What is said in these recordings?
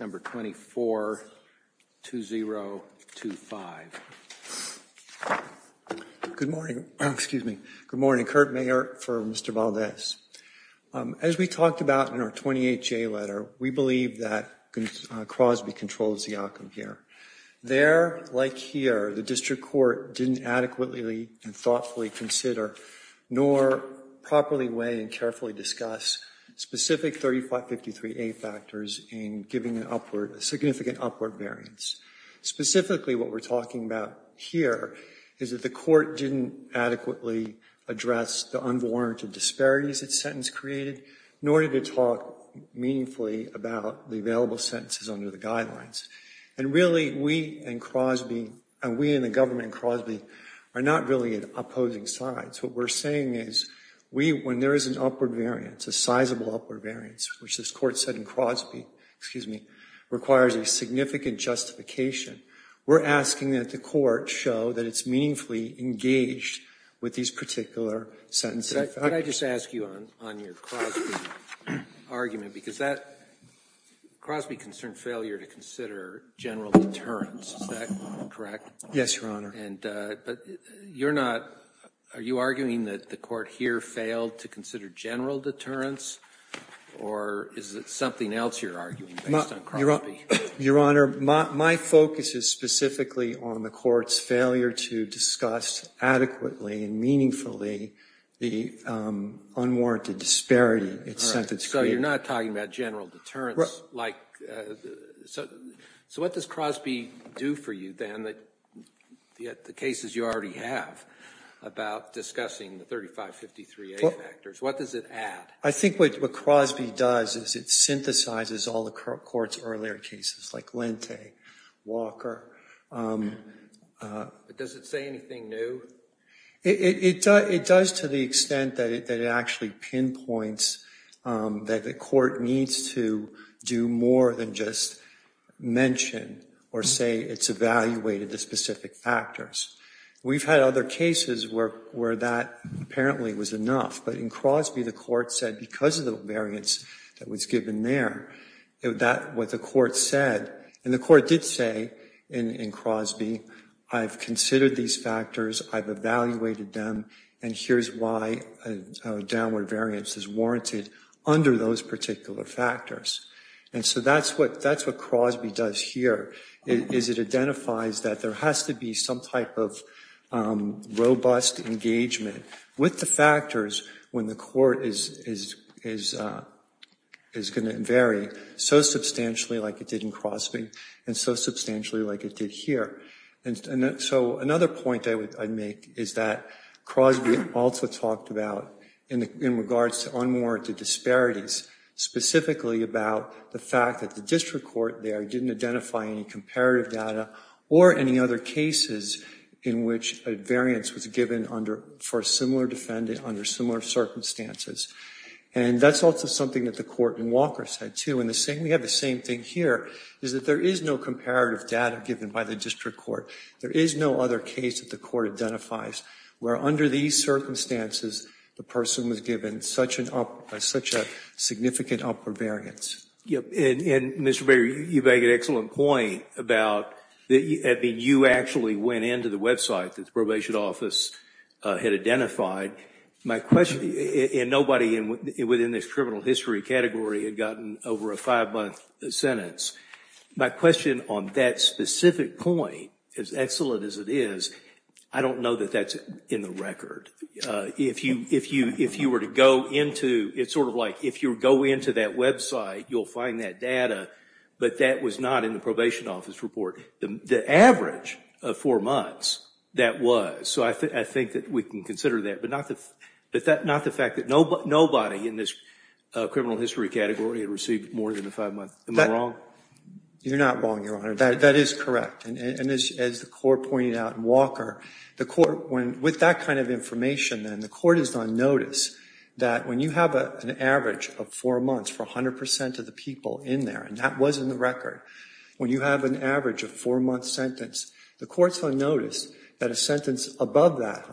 number 242025 Good morning, excuse me. Good morning. Kurt Mayer for Mr. Valdez. As we talked about in our 28-J letter, we believe that Crosby controls the outcome here. There, like here, the district court didn't adequately and thoughtfully consider, nor properly weigh and carefully discuss specific 3553A factors in giving an upward, a significant upward variance. Specifically, what we're talking about here is that the court didn't adequately address the unwarranted disparities its sentence created, nor did it talk meaningfully about the available sentences under the guidelines. And really, we in Crosby, and we in the government in Crosby, are not really at opposing sides. What we're saying is, we, when there is an upward variance, a sizable upward variance, which this Court said in Crosby, excuse me, requires a significant justification, we're asking that the court show that it's meaningfully engaged with these particular sentences. Can I just ask you on your Crosby argument? Because that, Crosby concerned failure to consider general deterrence. Is that correct? Yes, Your Honor. But you're not, are you arguing that the court here failed to consider general deterrence? Or is it something else you're arguing based on Crosby? Your Honor, my focus is specifically on the court's failure to discuss adequately and meaningfully the unwarranted disparity its sentence created. So you're not talking about general deterrence, like, so what does Crosby do for you, Dan, the cases you already have about discussing the 3553A factors, what does it add? I think what Crosby does is it synthesizes all the court's earlier cases, like Lente, Walker. But does it say anything new? It does to the extent that it actually pinpoints that the court needs to do more than just mention or say it's evaluated the specific factors. We've had other cases where that apparently was enough. But in Crosby, the court said because of the variance that was given there, that what the court said, and the court did say in Crosby, I've considered these factors, I've evaluated them, and here's why downward variance is warranted under those particular factors. And so that's what Crosby does here, is it identifies that there has to be some type of robust engagement with the factors when the court is going to vary so substantially like it did in Crosby, and so substantially like it did here. And so another point I'd make is that Crosby also talked about, in regards to unwarranted disparities, specifically about the fact that the district court there didn't identify any comparative data or any other cases in which a variance was given for a similar defendant under similar circumstances. And that's also something that the court in Walker said too, and we have the same thing here, is that there is no comparative data given by the district court. There is no other case that the court identifies where under these circumstances, the person was given such a significant upward variance. And Mr. Baker, you make an excellent point about, I mean, you actually went into the website that the probation office had identified. My question, and nobody within this criminal history category had gotten over a five-month sentence. My question on that specific point, as excellent as it is, I don't know that that's in the record. If you were to go into, it's sort of like, if you go into that website, you'll find that data, but that was not in the probation office report. The average of four months, that was. So I think that we can consider that, but not the fact that nobody in this criminal history category had received more than a five-month. Am I wrong? You're not wrong, Your Honor. That is correct. And as the court pointed out in Walker, the court, with that kind of information, then the court is on notice that when you have an average of four months for 100% of the people in there, and that was in the record, when you have an average of four-month sentence, the court's on notice that a sentence above that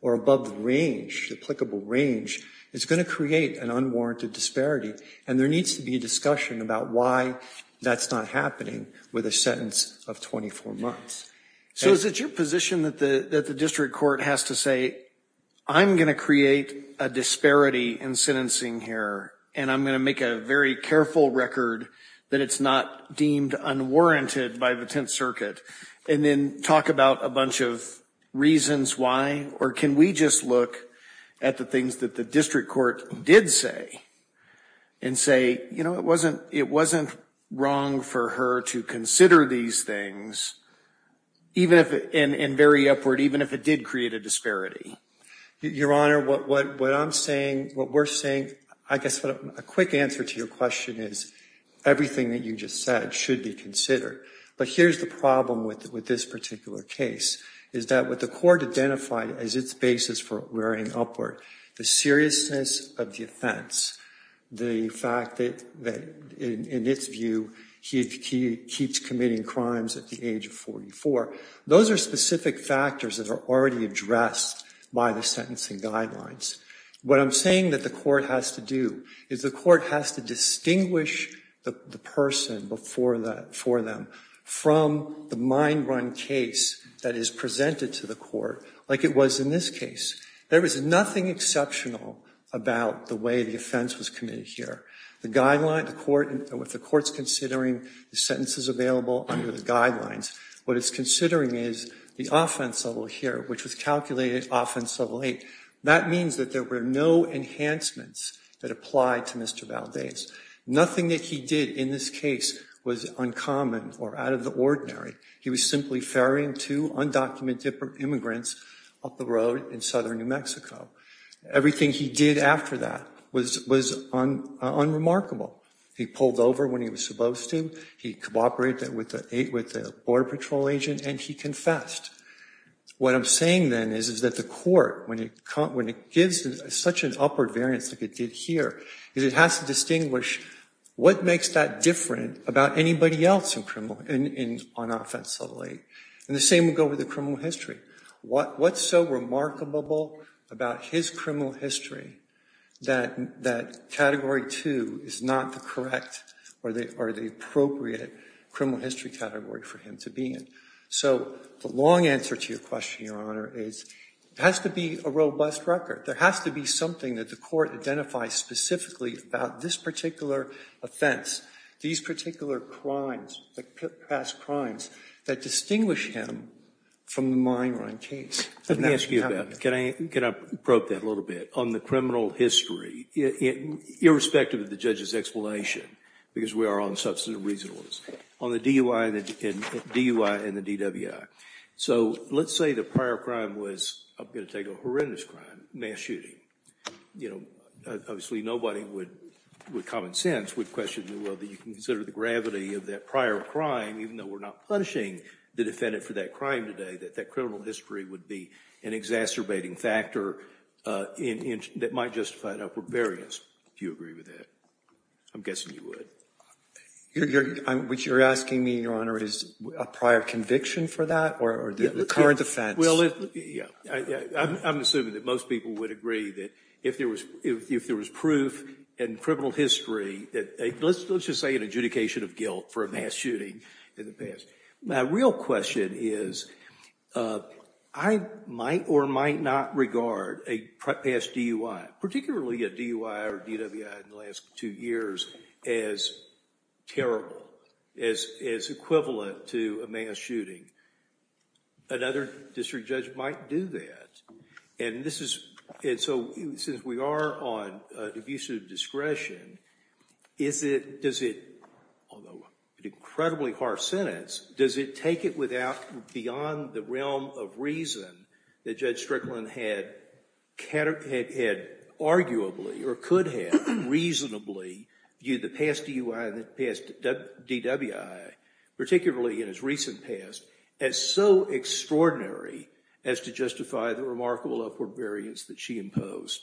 or above the range, applicable range, is going to create an unwarranted disparity. And there needs to be a discussion about why that's not happening with a sentence of 24 months. So is it your position that the district court has to say, I'm going to create a disparity in sentencing here, and I'm going to make a very careful record that it's not deemed unwarranted by the Tenth Circuit, and then talk about a bunch of reasons why, or can we just look at the things that the district court did say and say, you know, it wasn't wrong for her to consider these things, and very upward, even if it did create a disparity? Your Honor, what I'm saying, what we're saying, I guess a quick answer to your question is, everything that you just said should be considered. But here's the problem with this particular case, is that what the court identified as its basis for rearing upward, the seriousness of the offense, the fact that, in its view, he keeps committing crimes at the age of 44, those are specific factors that are already addressed by the sentencing guidelines. What I'm saying that the court has to do is the court has to distinguish the person for them from the mind-run case that is presented to the court, like it was in this case. There was nothing exceptional about the way the offense was committed here. The guideline, the court, what the court's considering, the sentences available under the guidelines. What it's considering is the offense level here, which was calculated offense level eight. That means that there were no enhancements that applied to Mr. Valdez. Nothing that he did in this case was uncommon or out of the ordinary. He was simply ferrying two undocumented immigrants up the road in southern New Mexico. Everything he did after that was unremarkable. He pulled over when he was supposed to, he cooperated with the border patrol agent, and he confessed. What I'm saying then is that the court, when it gives such an upward variance like it did here, is it has to distinguish what makes that different about anybody else on offense level eight. And the same would go with the criminal history. What's so remarkable about his criminal history that category two is not the correct or the appropriate criminal history category for him to be in? So the long answer to your question, Your Honor, is it has to be a robust record. There has to be something that the court identifies specifically about this particular offense, these particular crimes, past crimes, that distinguish him from the mine run case. Let me ask you about that. Can I probe that a little bit? On the criminal history, irrespective of the judge's explanation, because we are on substantive reasonableness, on the DUI and the DWI. So let's say the prior crime was, I'm going to take a horrendous crime, mass shooting, you know, obviously nobody would, with common sense, would question whether you can consider the gravity of that prior crime, even though we're not punishing the defendant for that crime today, that that criminal history would be an exacerbating factor that might justify an upward variance. Do you agree with that? I'm guessing you would. What you're asking me, Your Honor, is a prior conviction for that or the current offense? Well, I'm assuming that most people would agree that if there was proof in criminal history, let's just say an adjudication of guilt for a mass shooting in the past. My real question is, I might or might not regard a past DUI, particularly a DUI or DWI in the last two years, as terrible, as equivalent to a mass shooting. Another district judge might do that. And this is, and so since we are on the use of discretion, is it, does it, although an incredibly harsh sentence, does it take it without, beyond the realm of reason that Judge Strickland had arguably or could have reasonably viewed the past DUI and the past DWI, particularly in his recent past, as so extraordinary as to justify the remarkable upward variance that she imposed?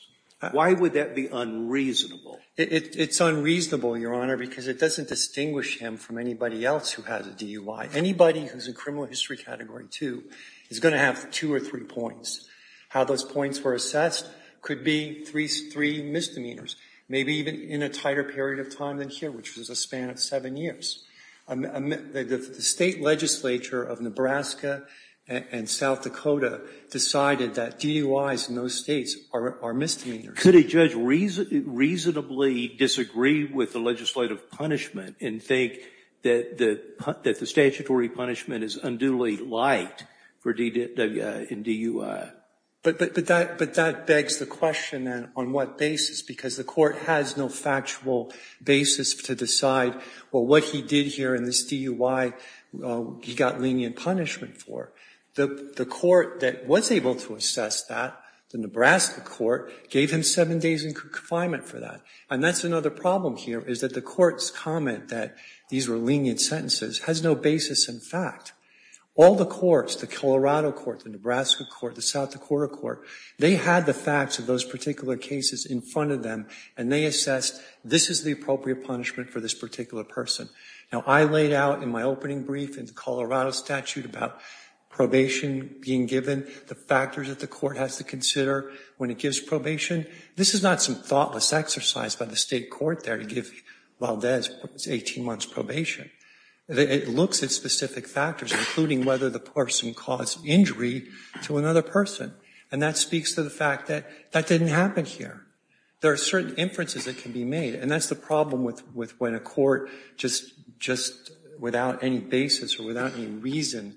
Why would that be unreasonable? It's unreasonable, Your Honor, because it doesn't distinguish him from anybody else who has a DUI. Anybody who's in criminal history category two is going to have two or three points. How those points were assessed could be three misdemeanors, maybe even in a tighter period of time than here, which was a span of seven years. The state legislature of Nebraska and South Dakota decided that DUIs in those states are misdemeanors. Could a judge reasonably disagree with the legislative punishment and think that the statutory punishment is unduly light for DWI and DUI? But that begs the question, then, on what basis? Because the court has no factual basis to decide, well, what he did here in this DUI, he got lenient punishment for. The court that was able to assess that, the Nebraska court, gave him seven days in confinement for that. And that's another problem here, is that the court's comment that these were lenient sentences has no basis in fact. All the courts, the Colorado court, the Nebraska court, the South Dakota court, they had the facts of those particular cases in front of them, and they assessed this is the appropriate punishment for this particular person. Now, I laid out in my opening brief in the Colorado statute about probation being given, the factors that the court has to consider when it gives probation. This is not some thoughtless exercise by the state court there to give Valdez his 18 months probation. It looks at specific factors, including whether the person caused injury to another person. And that speaks to the fact that that didn't happen here. There are certain inferences that can be made. And that's the problem with when a court, just without any basis or without any reason,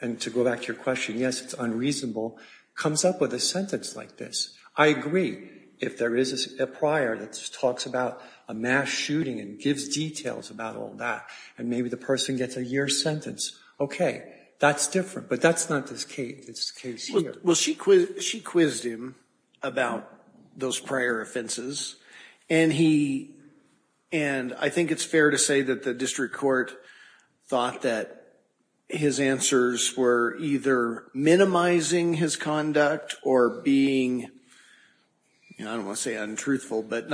and to go back to your question, yes, it's unreasonable, comes up with a sentence like this. I agree if there is a prior that talks about a mass shooting and gives details about all that, and maybe the person gets a year's sentence. Okay, that's different, but that's not this case here. She quizzed him about those prior offenses. And I think it's fair to say that the district court thought that his answers were either minimizing his conduct or being, I don't want to say untruthful, but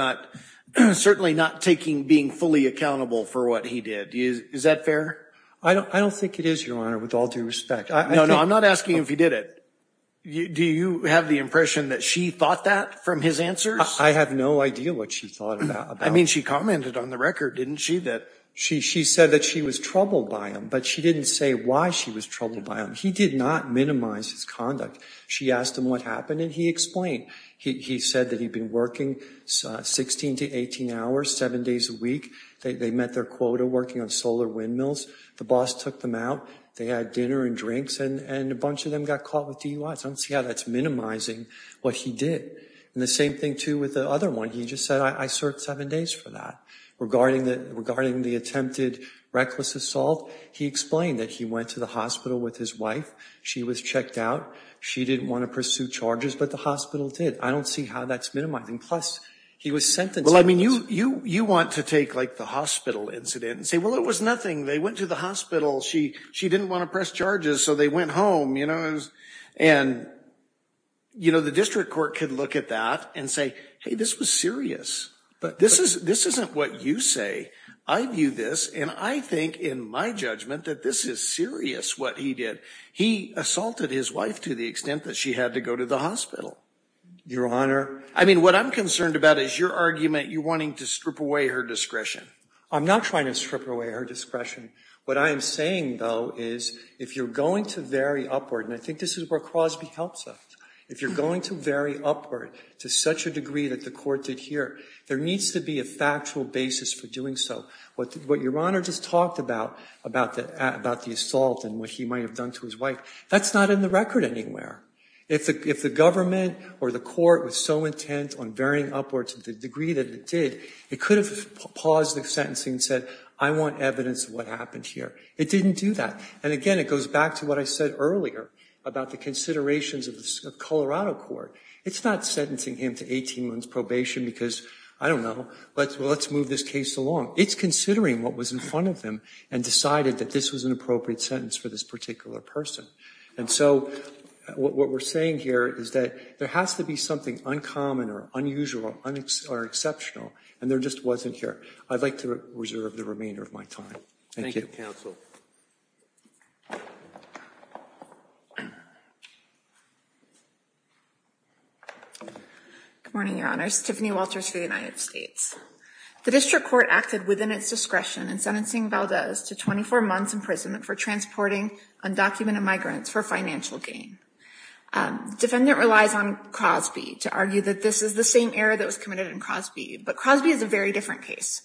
certainly not being fully accountable for what he did. Is that fair? I don't think it is, your honor, with all due respect. No, no, I'm not asking if he did it. Do you have the impression that she thought that from his answers? I have no idea what she thought about it. I mean, she commented on the record, didn't she, that- She said that she was troubled by him, but she didn't say why she was troubled by him. He did not minimize his conduct. She asked him what happened, and he explained. He said that he'd been working 16 to 18 hours, seven days a week. They met their quota working on solar windmills. The boss took them out. They had dinner and drinks, and a bunch of them got caught with DUIs. I don't see how that's minimizing what he did. And the same thing, too, with the other one. He just said, I served seven days for that. Regarding the attempted reckless assault, he explained that he went to the hospital with his wife. She was checked out. She didn't want to pursue charges, but the hospital did. I don't see how that's minimizing. Plus, he was sentenced. Well, I mean, you want to take, like, the hospital incident and say, well, it was nothing. They went to the hospital. She didn't want to press charges, so they went home, you know? And, you know, the district court could look at that and say, hey, this was serious. But this isn't what you say. I view this, and I think, in my judgment, that this is serious, what he did. He assaulted his wife to the extent that she had to go to the hospital. Your Honor. I mean, what I'm concerned about is your argument, you wanting to strip away her discretion. I'm not trying to strip away her discretion. What I am saying, though, is if you're going to vary upward, and I think this is where Crosby helps us. If you're going to vary upward to such a degree that the court did here, there needs to be a factual basis for doing so. What your Honor just talked about, about the assault and what he might have done to his wife, that's not in the record anywhere. If the government or the court was so intent on varying upward to the degree that it did, it could have paused the sentencing and said, I want evidence of what happened here. It didn't do that. And again, it goes back to what I said earlier about the considerations of the Colorado court. It's not sentencing him to 18 months probation because, I don't know, let's move this case along. It's considering what was in front of him and decided that this was an appropriate sentence for this particular person. And so what we're saying here is that there has to be something uncommon or unusual or exceptional, and there just wasn't here. I'd like to reserve the remainder of my time. Thank you. Good morning, Your Honors. Tiffany Walters for the United States. The district court acted within its discretion in sentencing Valdez to 24 months imprisonment for transporting undocumented migrants for financial gain. Defendant relies on Crosby to argue that this is the same error that was committed in Crosby. But Crosby is a very different case.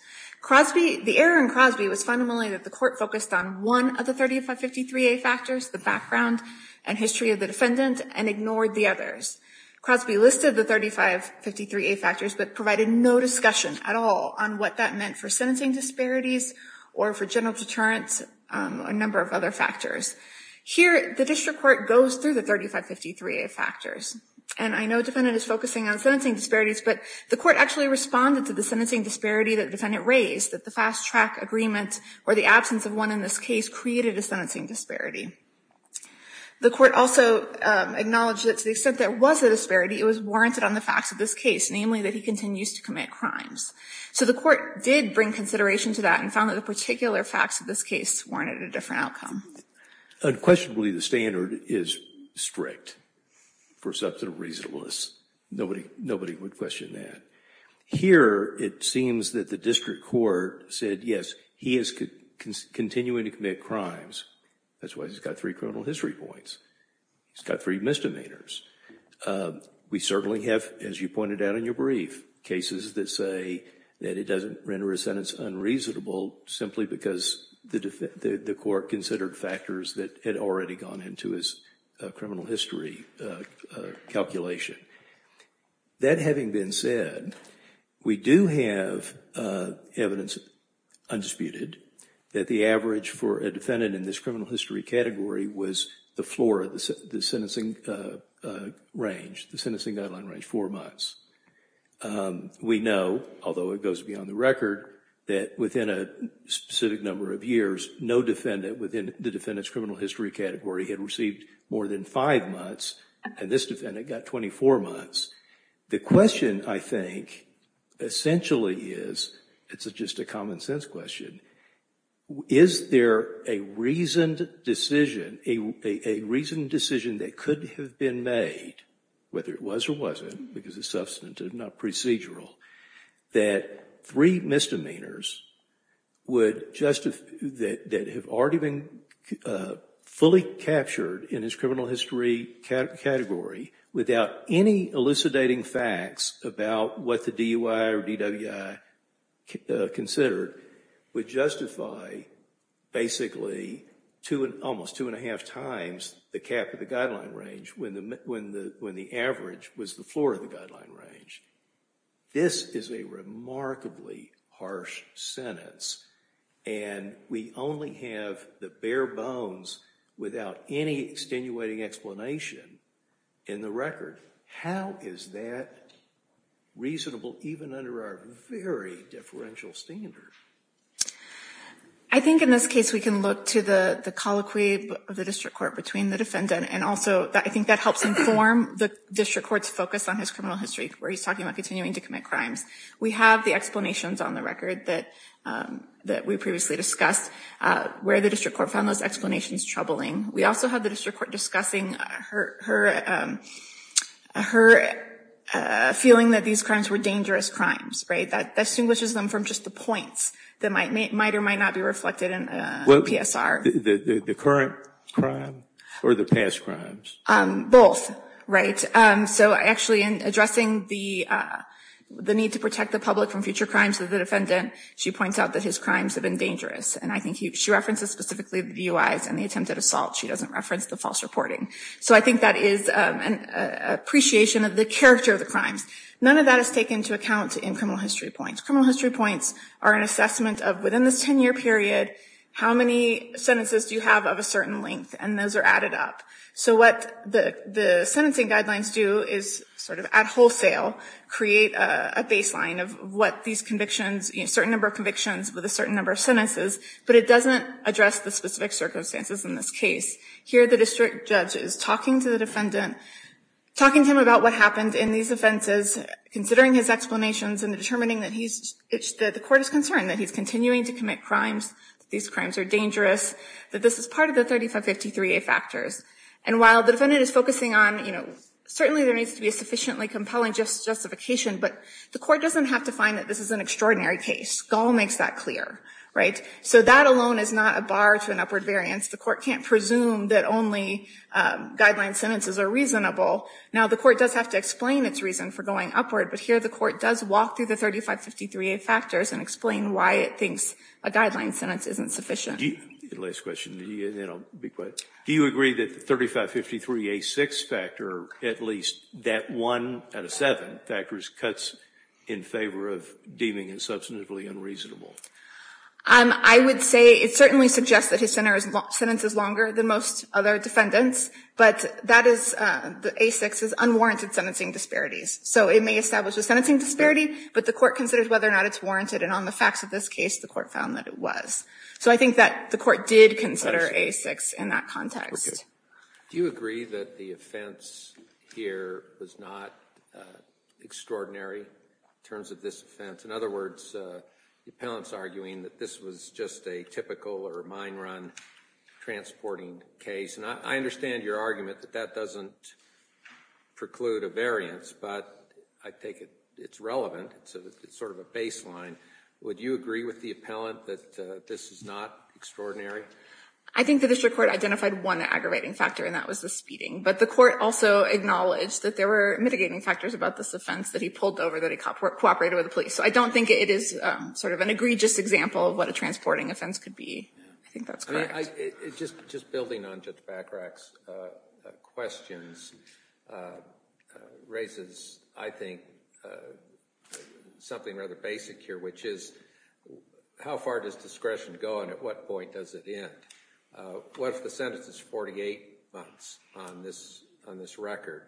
The error in Crosby was fundamentally that the court focused on one of the 3553A factors, the background and history of the defendant, and ignored the others. Crosby listed the 3553A factors but provided no discussion at all on what that meant for sentencing disparities or for general deterrence or a number of other factors. Here, the district court goes through the 3553A factors. And I know the defendant is focusing on sentencing disparities, but the court actually responded to the sentencing disparity that the defendant raised, that the fast-track agreement or the absence of one in this case created a sentencing disparity. The court also acknowledged that to the extent there was a disparity, it was warranted on the facts of this case, namely that he continues to commit crimes. So the court did bring consideration to that and found that the particular facts of this case warranted a different outcome. Unquestionably, the standard is strict for substantive reasonableness. Nobody would question that. Here, it seems that the district court said, yes, he is continuing to commit crimes. That's why he's got three criminal history points. He's got three misdemeanors. We certainly have, as you pointed out in your brief, cases that say that it doesn't render a sentence unreasonable simply because the court considered factors that had already gone into his criminal history calculation. That having been said, we do have evidence, undisputed, that the average for a defendant in this criminal history category was the floor of the sentencing range, the sentencing guideline range, four months. We know, although it goes beyond the record, that within a specific number of years, no defendant within the defendant's criminal history category had received more than five months and this defendant got 24 months. The question, I think, essentially is, it's just a common sense question, is there a reasoned decision, a reasoned decision that could have been made, whether it was or wasn't, because it's substantive, not procedural, that three misdemeanors would justify, that have already been fully captured in his criminal history category without any elucidating facts about what the DUI or DWI considered, would justify basically almost two and a half times the cap of the guideline range when the average was the floor of the guideline range. This is a remarkably harsh sentence and we only have the bare bones without any extenuating explanation in the record. How is that reasonable even under our very differential standard? I think in this case, we can look to the colloquy of the district court between the defendant and also I think that helps inform the district court's focus on his criminal history where he's talking about continuing to commit crimes. We have the explanations on the record that we previously discussed where the district court found those explanations troubling. We also have the district court discussing her feeling that these crimes were dangerous crimes, right? That distinguishes them from just the points that might or might not be reflected in a PSR. The current crime or the past crimes? Both, right? So actually in addressing the need to protect the public from future crimes of the defendant, she points out that his crimes have been dangerous and I think she references specifically the DUIs and the attempted assault. She doesn't reference the false reporting. So I think that is an appreciation of the character of the crimes. None of that is taken into account in criminal history points. Criminal history points are an assessment of within this 10-year period, how many sentences do you have of a certain length? And those are added up. So what the sentencing guidelines do is sort of at wholesale create a baseline of what these convictions, certain number of convictions with a certain number of sentences, but it doesn't address the specific circumstances in this case. Here the district judge is talking to the defendant, talking to him about what happened in these offenses, considering his explanations and determining that the court is concerned that he's continuing to commit crimes, these crimes are dangerous, that this is part of the 3553A factors. And while the defendant is focusing on, you know, certainly there needs to be a sufficiently compelling justification, but the court doesn't have to find that this is an extraordinary case. Gall makes that clear, right? So that alone is not a bar to an upward variance. The court can't presume that only guideline sentences are reasonable. Now the court does have to explain its reason for going upward, but here the court does walk through the 3553A factors and explain why it thinks a guideline sentence isn't sufficient. The last question, and then I'll be quick. Do you agree that the 3553A6 factor, at least that one out of seven factors, cuts in favor of deeming it substantively unreasonable? I would say it certainly suggests that his sentence is longer than most other defendants, but that is, the A6 is unwarranted sentencing disparities. So it may establish a sentencing disparity, but the court considers whether or not it's warranted. And on the facts of this case, the court found that it was. So I think that the court did consider A6 in that context. Do you agree that the offense here was not extraordinary in terms of this offense? In other words, the appellant's arguing that this was just a typical or mine run transporting case. And I understand your argument that that doesn't preclude a variance, but I take it it's relevant. So it's sort of a baseline. Would you agree with the appellant that this is not extraordinary? I think the district court identified one aggravating factor, and that was the speeding. But the court also acknowledged that there were mitigating factors about this offense that he pulled over that he cooperated with the police. So I don't think it is sort of an egregious example of what a transporting offense could be. I think that's correct. Just building on Judge Bachrach's questions raises, I think, something rather basic here, which is how far does discretion go, and at what point does it end? What if the sentence is 48 months on this record?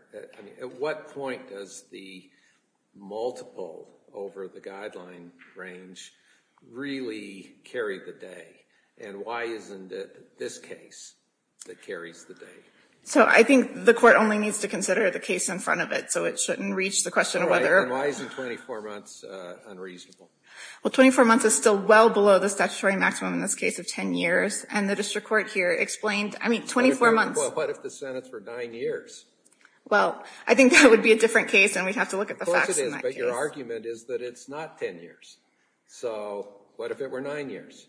At what point does the multiple over the guideline range really carry the day? And why isn't it this case that carries the day? So I think the court only needs to consider the case in front of it, so it shouldn't reach the question of whether... And why isn't 24 months unreasonable? Well, 24 months is still well below the statutory maximum in this case of 10 years, and the district court here explained, I mean, 24 months... What if the sentence were nine years? Well, I think that would be a different case, and we'd have to look at the facts in that case. Of course it is, but your argument is that it's not 10 years. So what if it were nine years?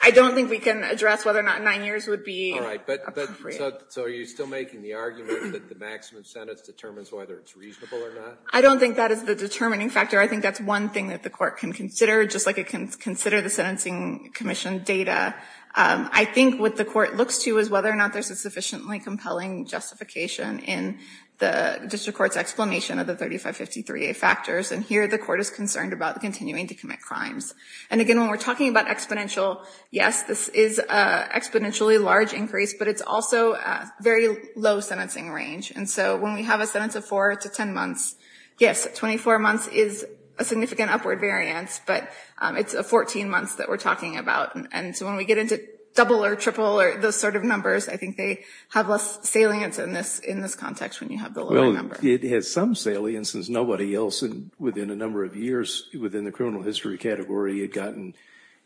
I don't think we can address whether or not nine years would be appropriate. All right, but so are you still making the argument that the maximum sentence determines whether it's reasonable or not? I don't think that is the determining factor. I think that's one thing that the court can consider, just like it can consider the Sentencing Commission data. I think what the court looks to is whether or not there's a sufficiently compelling justification in the district court's explanation of the 3553A factors, and here the court is concerned about continuing to commit crimes. And again, when we're talking about exponential, yes, this is an exponentially large increase, but it's also a very low sentencing range. And so when we have a sentence of four to 10 months, yes, 24 months is a significant upward variance, but it's 14 months that we're talking about. And so when we get into double or triple or those sort of numbers, I think they have less salience in this context when you have the lower number. It has some salience, and nobody else within a number of years within the criminal history category had gotten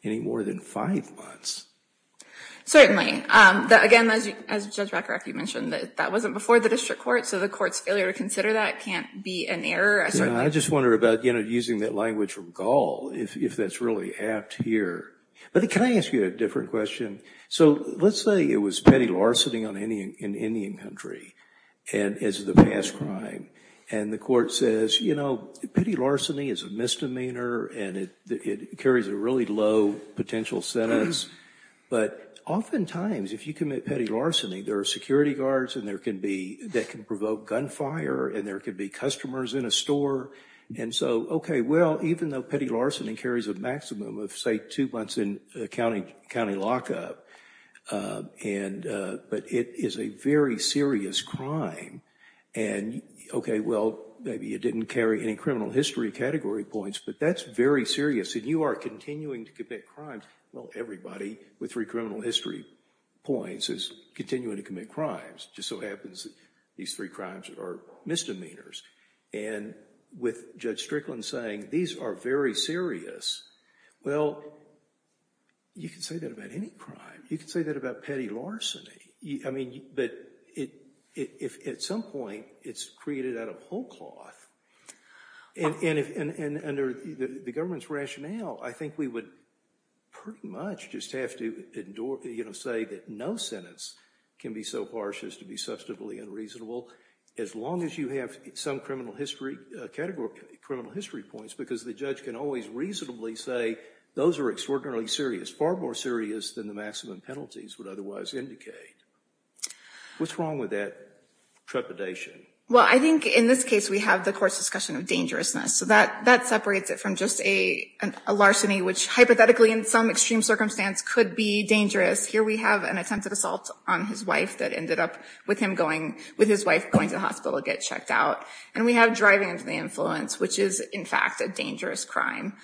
any more than five months. Certainly. Again, as Judge Rakarek, you mentioned that that wasn't before the district court, so the court's failure to consider that can't be an error. I just wonder about using that language from Gall, if that's really apt here. But can I ask you a different question? So let's say it was petty larceny in Indian country as the past crime, and the court says, you know, petty larceny is a misdemeanor, and it carries a really low potential sentence. But oftentimes, if you commit petty larceny, there are security guards that can provoke gunfire, and there could be customers in a store. And so, OK, well, even though petty larceny carries a maximum of, say, two months in county lockup, but it is a very serious crime. And, OK, well, maybe it didn't carry any criminal history category points, but that's very serious, and you are continuing to commit crimes. Well, everybody with three criminal history points is continuing to commit crimes. It just so happens that these three crimes are misdemeanors. And with Judge Strickland saying, these are very serious, well, you can say that about any crime. You can say that about petty larceny. I mean, but at some point, it's created out of whole cloth. And under the government's rationale, I think we would pretty much just have to say that no sentence can be so harsh as to be substantively unreasonable, as long as you have some criminal history category, criminal history points, because the judge can always reasonably say, those are extraordinarily serious, far more serious than the maximum penalties would otherwise indicate. What's wrong with that trepidation? Well, I think in this case, we have the court's discussion of dangerousness. So that separates it from just a larceny, which hypothetically in some extreme circumstance could be dangerous. Here we have an attempted assault on his wife that ended up with him going, with his wife going to the hospital to get checked out. And we have driving of the influence, which is, in fact, a dangerous crime.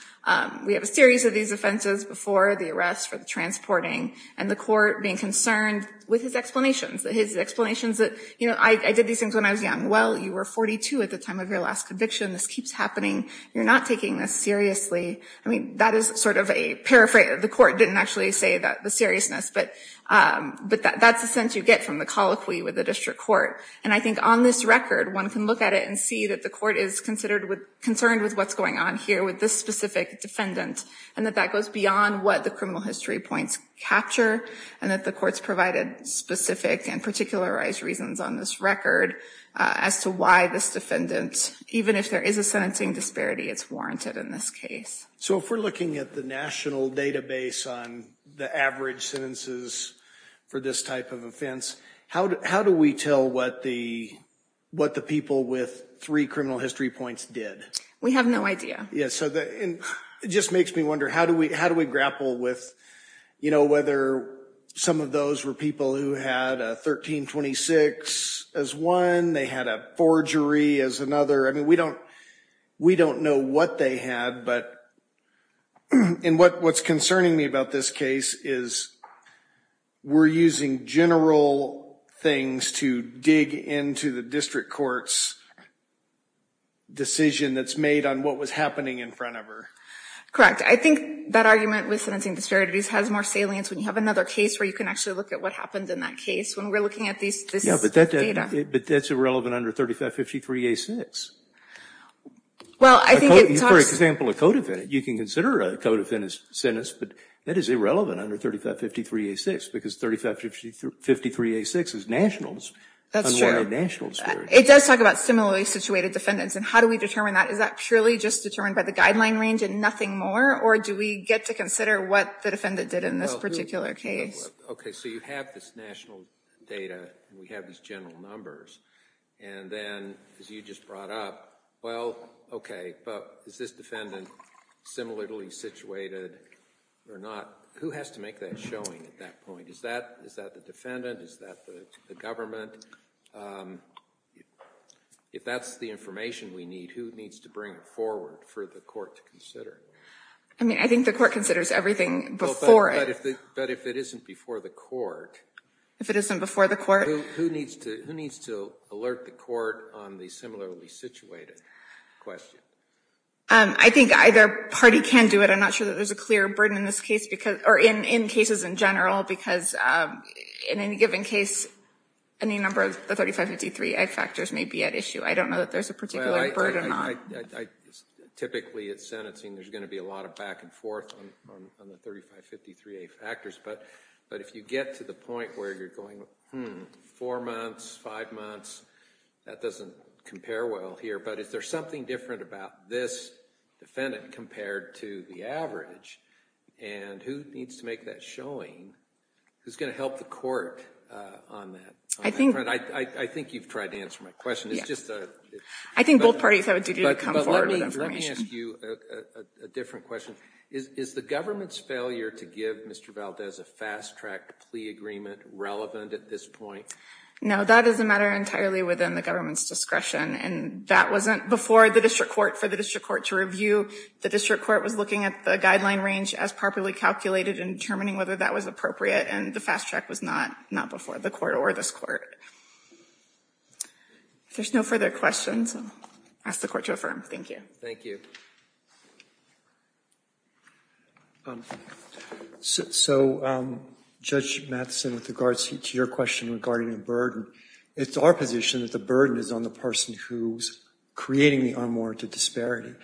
We have a series of these offenses before the arrest for the transporting, and the court being concerned with his explanations. His explanations that, you know, I did these things when I was young. Well, you were 42 at the time of your last conviction. This keeps happening. You're not taking this seriously. I mean, that is sort of a paraphrase. The court didn't actually say the seriousness, but that's the sense you get from the colloquy with the district court. And I think on this record, one can look at it and see that the court is concerned with what's going on here with this specific defendant, and that that goes beyond what the criminal history points capture, and that the court's provided specific and particularized reasons on this record as to why this defendant, even if there is a sentencing disparity, it's warranted in this case. So if we're looking at the national database on the average sentences for this type of offense, how do we tell what the people with three criminal history points did? We have no idea. And it just makes me wonder, how do we grapple with, you know, whether some of those were people who had a 1326 as one, they had a forgery as another. I mean, we don't know what they had, but what's concerning me about this case is we're using general things to dig into the district court's decision that's made on what was happening in front of her. Correct. I think that argument with sentencing disparities has more salience when you have another case where you can actually look at what happened in that case when we're looking at this data. But that's irrelevant under 3553-A-6. Well, I think it talks... For example, a codefendant, you can consider a codefendant's sentence, but that is irrelevant under 3553-A-6 because 3553-A-6 is nationals. That's true. Unwarranted nationals. It does talk about similarly situated defendants. And how do we determine that? Is that purely just determined by the guideline range and nothing more? Or do we get to consider what the defendant did in this particular case? Okay, so you have this national data and we have these general numbers. And then, as you just brought up, well, okay, but is this defendant similarly situated or not? Who has to make that showing at that point? Is that the defendant? Is that the government? If that's the information we need, who needs to bring it forward for the court to consider? I mean, I think the court considers everything before it. But if it isn't before the court... If it isn't before the court... Who needs to alert the court on the similarly situated question? I think either party can do it. I'm not sure that there's a clear burden in this case because... Or in cases in general, because in any given case, any number of the 3553A factors may be at issue. I don't know that there's a particular burden on... Typically, at sentencing, there's going to be a lot of back and forth on the 3553A factors. But if you get to the point where you're going, hmm, four months, five months, that doesn't compare well here. But is there something different about this defendant compared to the average? And who needs to make that showing? Who's going to help the court on that? I think you've tried to answer my question. It's just a... I think both parties have a duty to come forward with information. But let me ask you a different question. Is the government's failure to give Mr. Valdez a fast-track plea agreement relevant at this point? No, that is a matter entirely within the government's discretion. And that wasn't before the district court for the district court to review. The district court was looking at the guideline range as properly calculated and determining whether that was appropriate. And the fast-track was not before the court or this court. If there's no further questions, I'll ask the court to affirm. Thank you. Thank you. So, Judge Matheson, with regards to your question regarding the burden, it's our position that the burden is on the person who's creating the unwarranted disparity.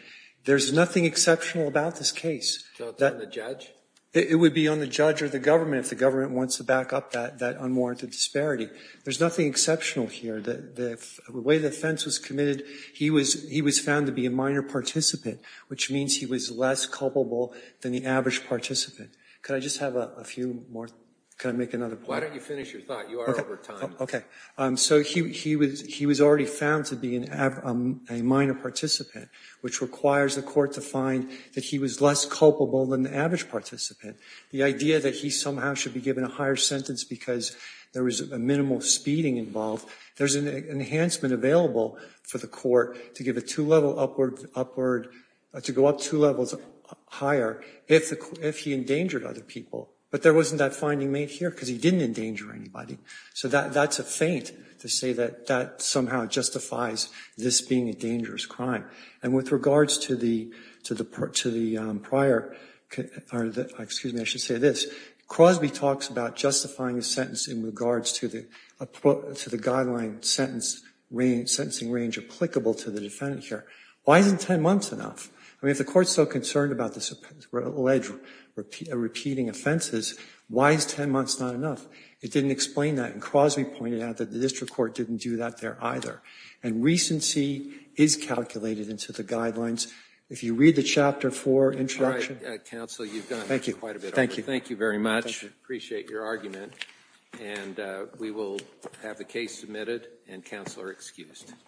There's nothing exceptional about this case. So it's on the judge? It would be on the judge or the government, if the government wants to back up that unwarranted disparity. There's nothing exceptional here. The way the offense was committed, he was found to be a minor participant, which means he was less culpable than the average participant. Could I just have a few more? Can I make another point? Why don't you finish your thought? You are over time. Okay. So he was already found to be a minor participant, which requires the court to find that he was less culpable than the average participant. The idea that he somehow should be given a higher sentence because there was a minimal speeding involved, there's an enhancement available for the court to go up two levels higher if he endangered other people. But there wasn't that finding made here because he didn't endanger anybody. So that's a feint to say that that somehow justifies this being a dangerous crime. And with regards to the prior, excuse me, I should say this. Crosby talks about justifying a sentence in regards to the guideline sentencing range applicable to the defendant here. Why isn't 10 months enough? I mean, if the court's so concerned about this alleged repeating offenses, why is 10 months not enough? It didn't explain that. And Crosby pointed out that the district court didn't do that there either. And recency is calculated into the guidelines. If you read the Chapter 4 introduction... All right, Counsel, you've gone quite a bit over. Thank you very much. Appreciate your argument. And we will have the case submitted and Counselor excused.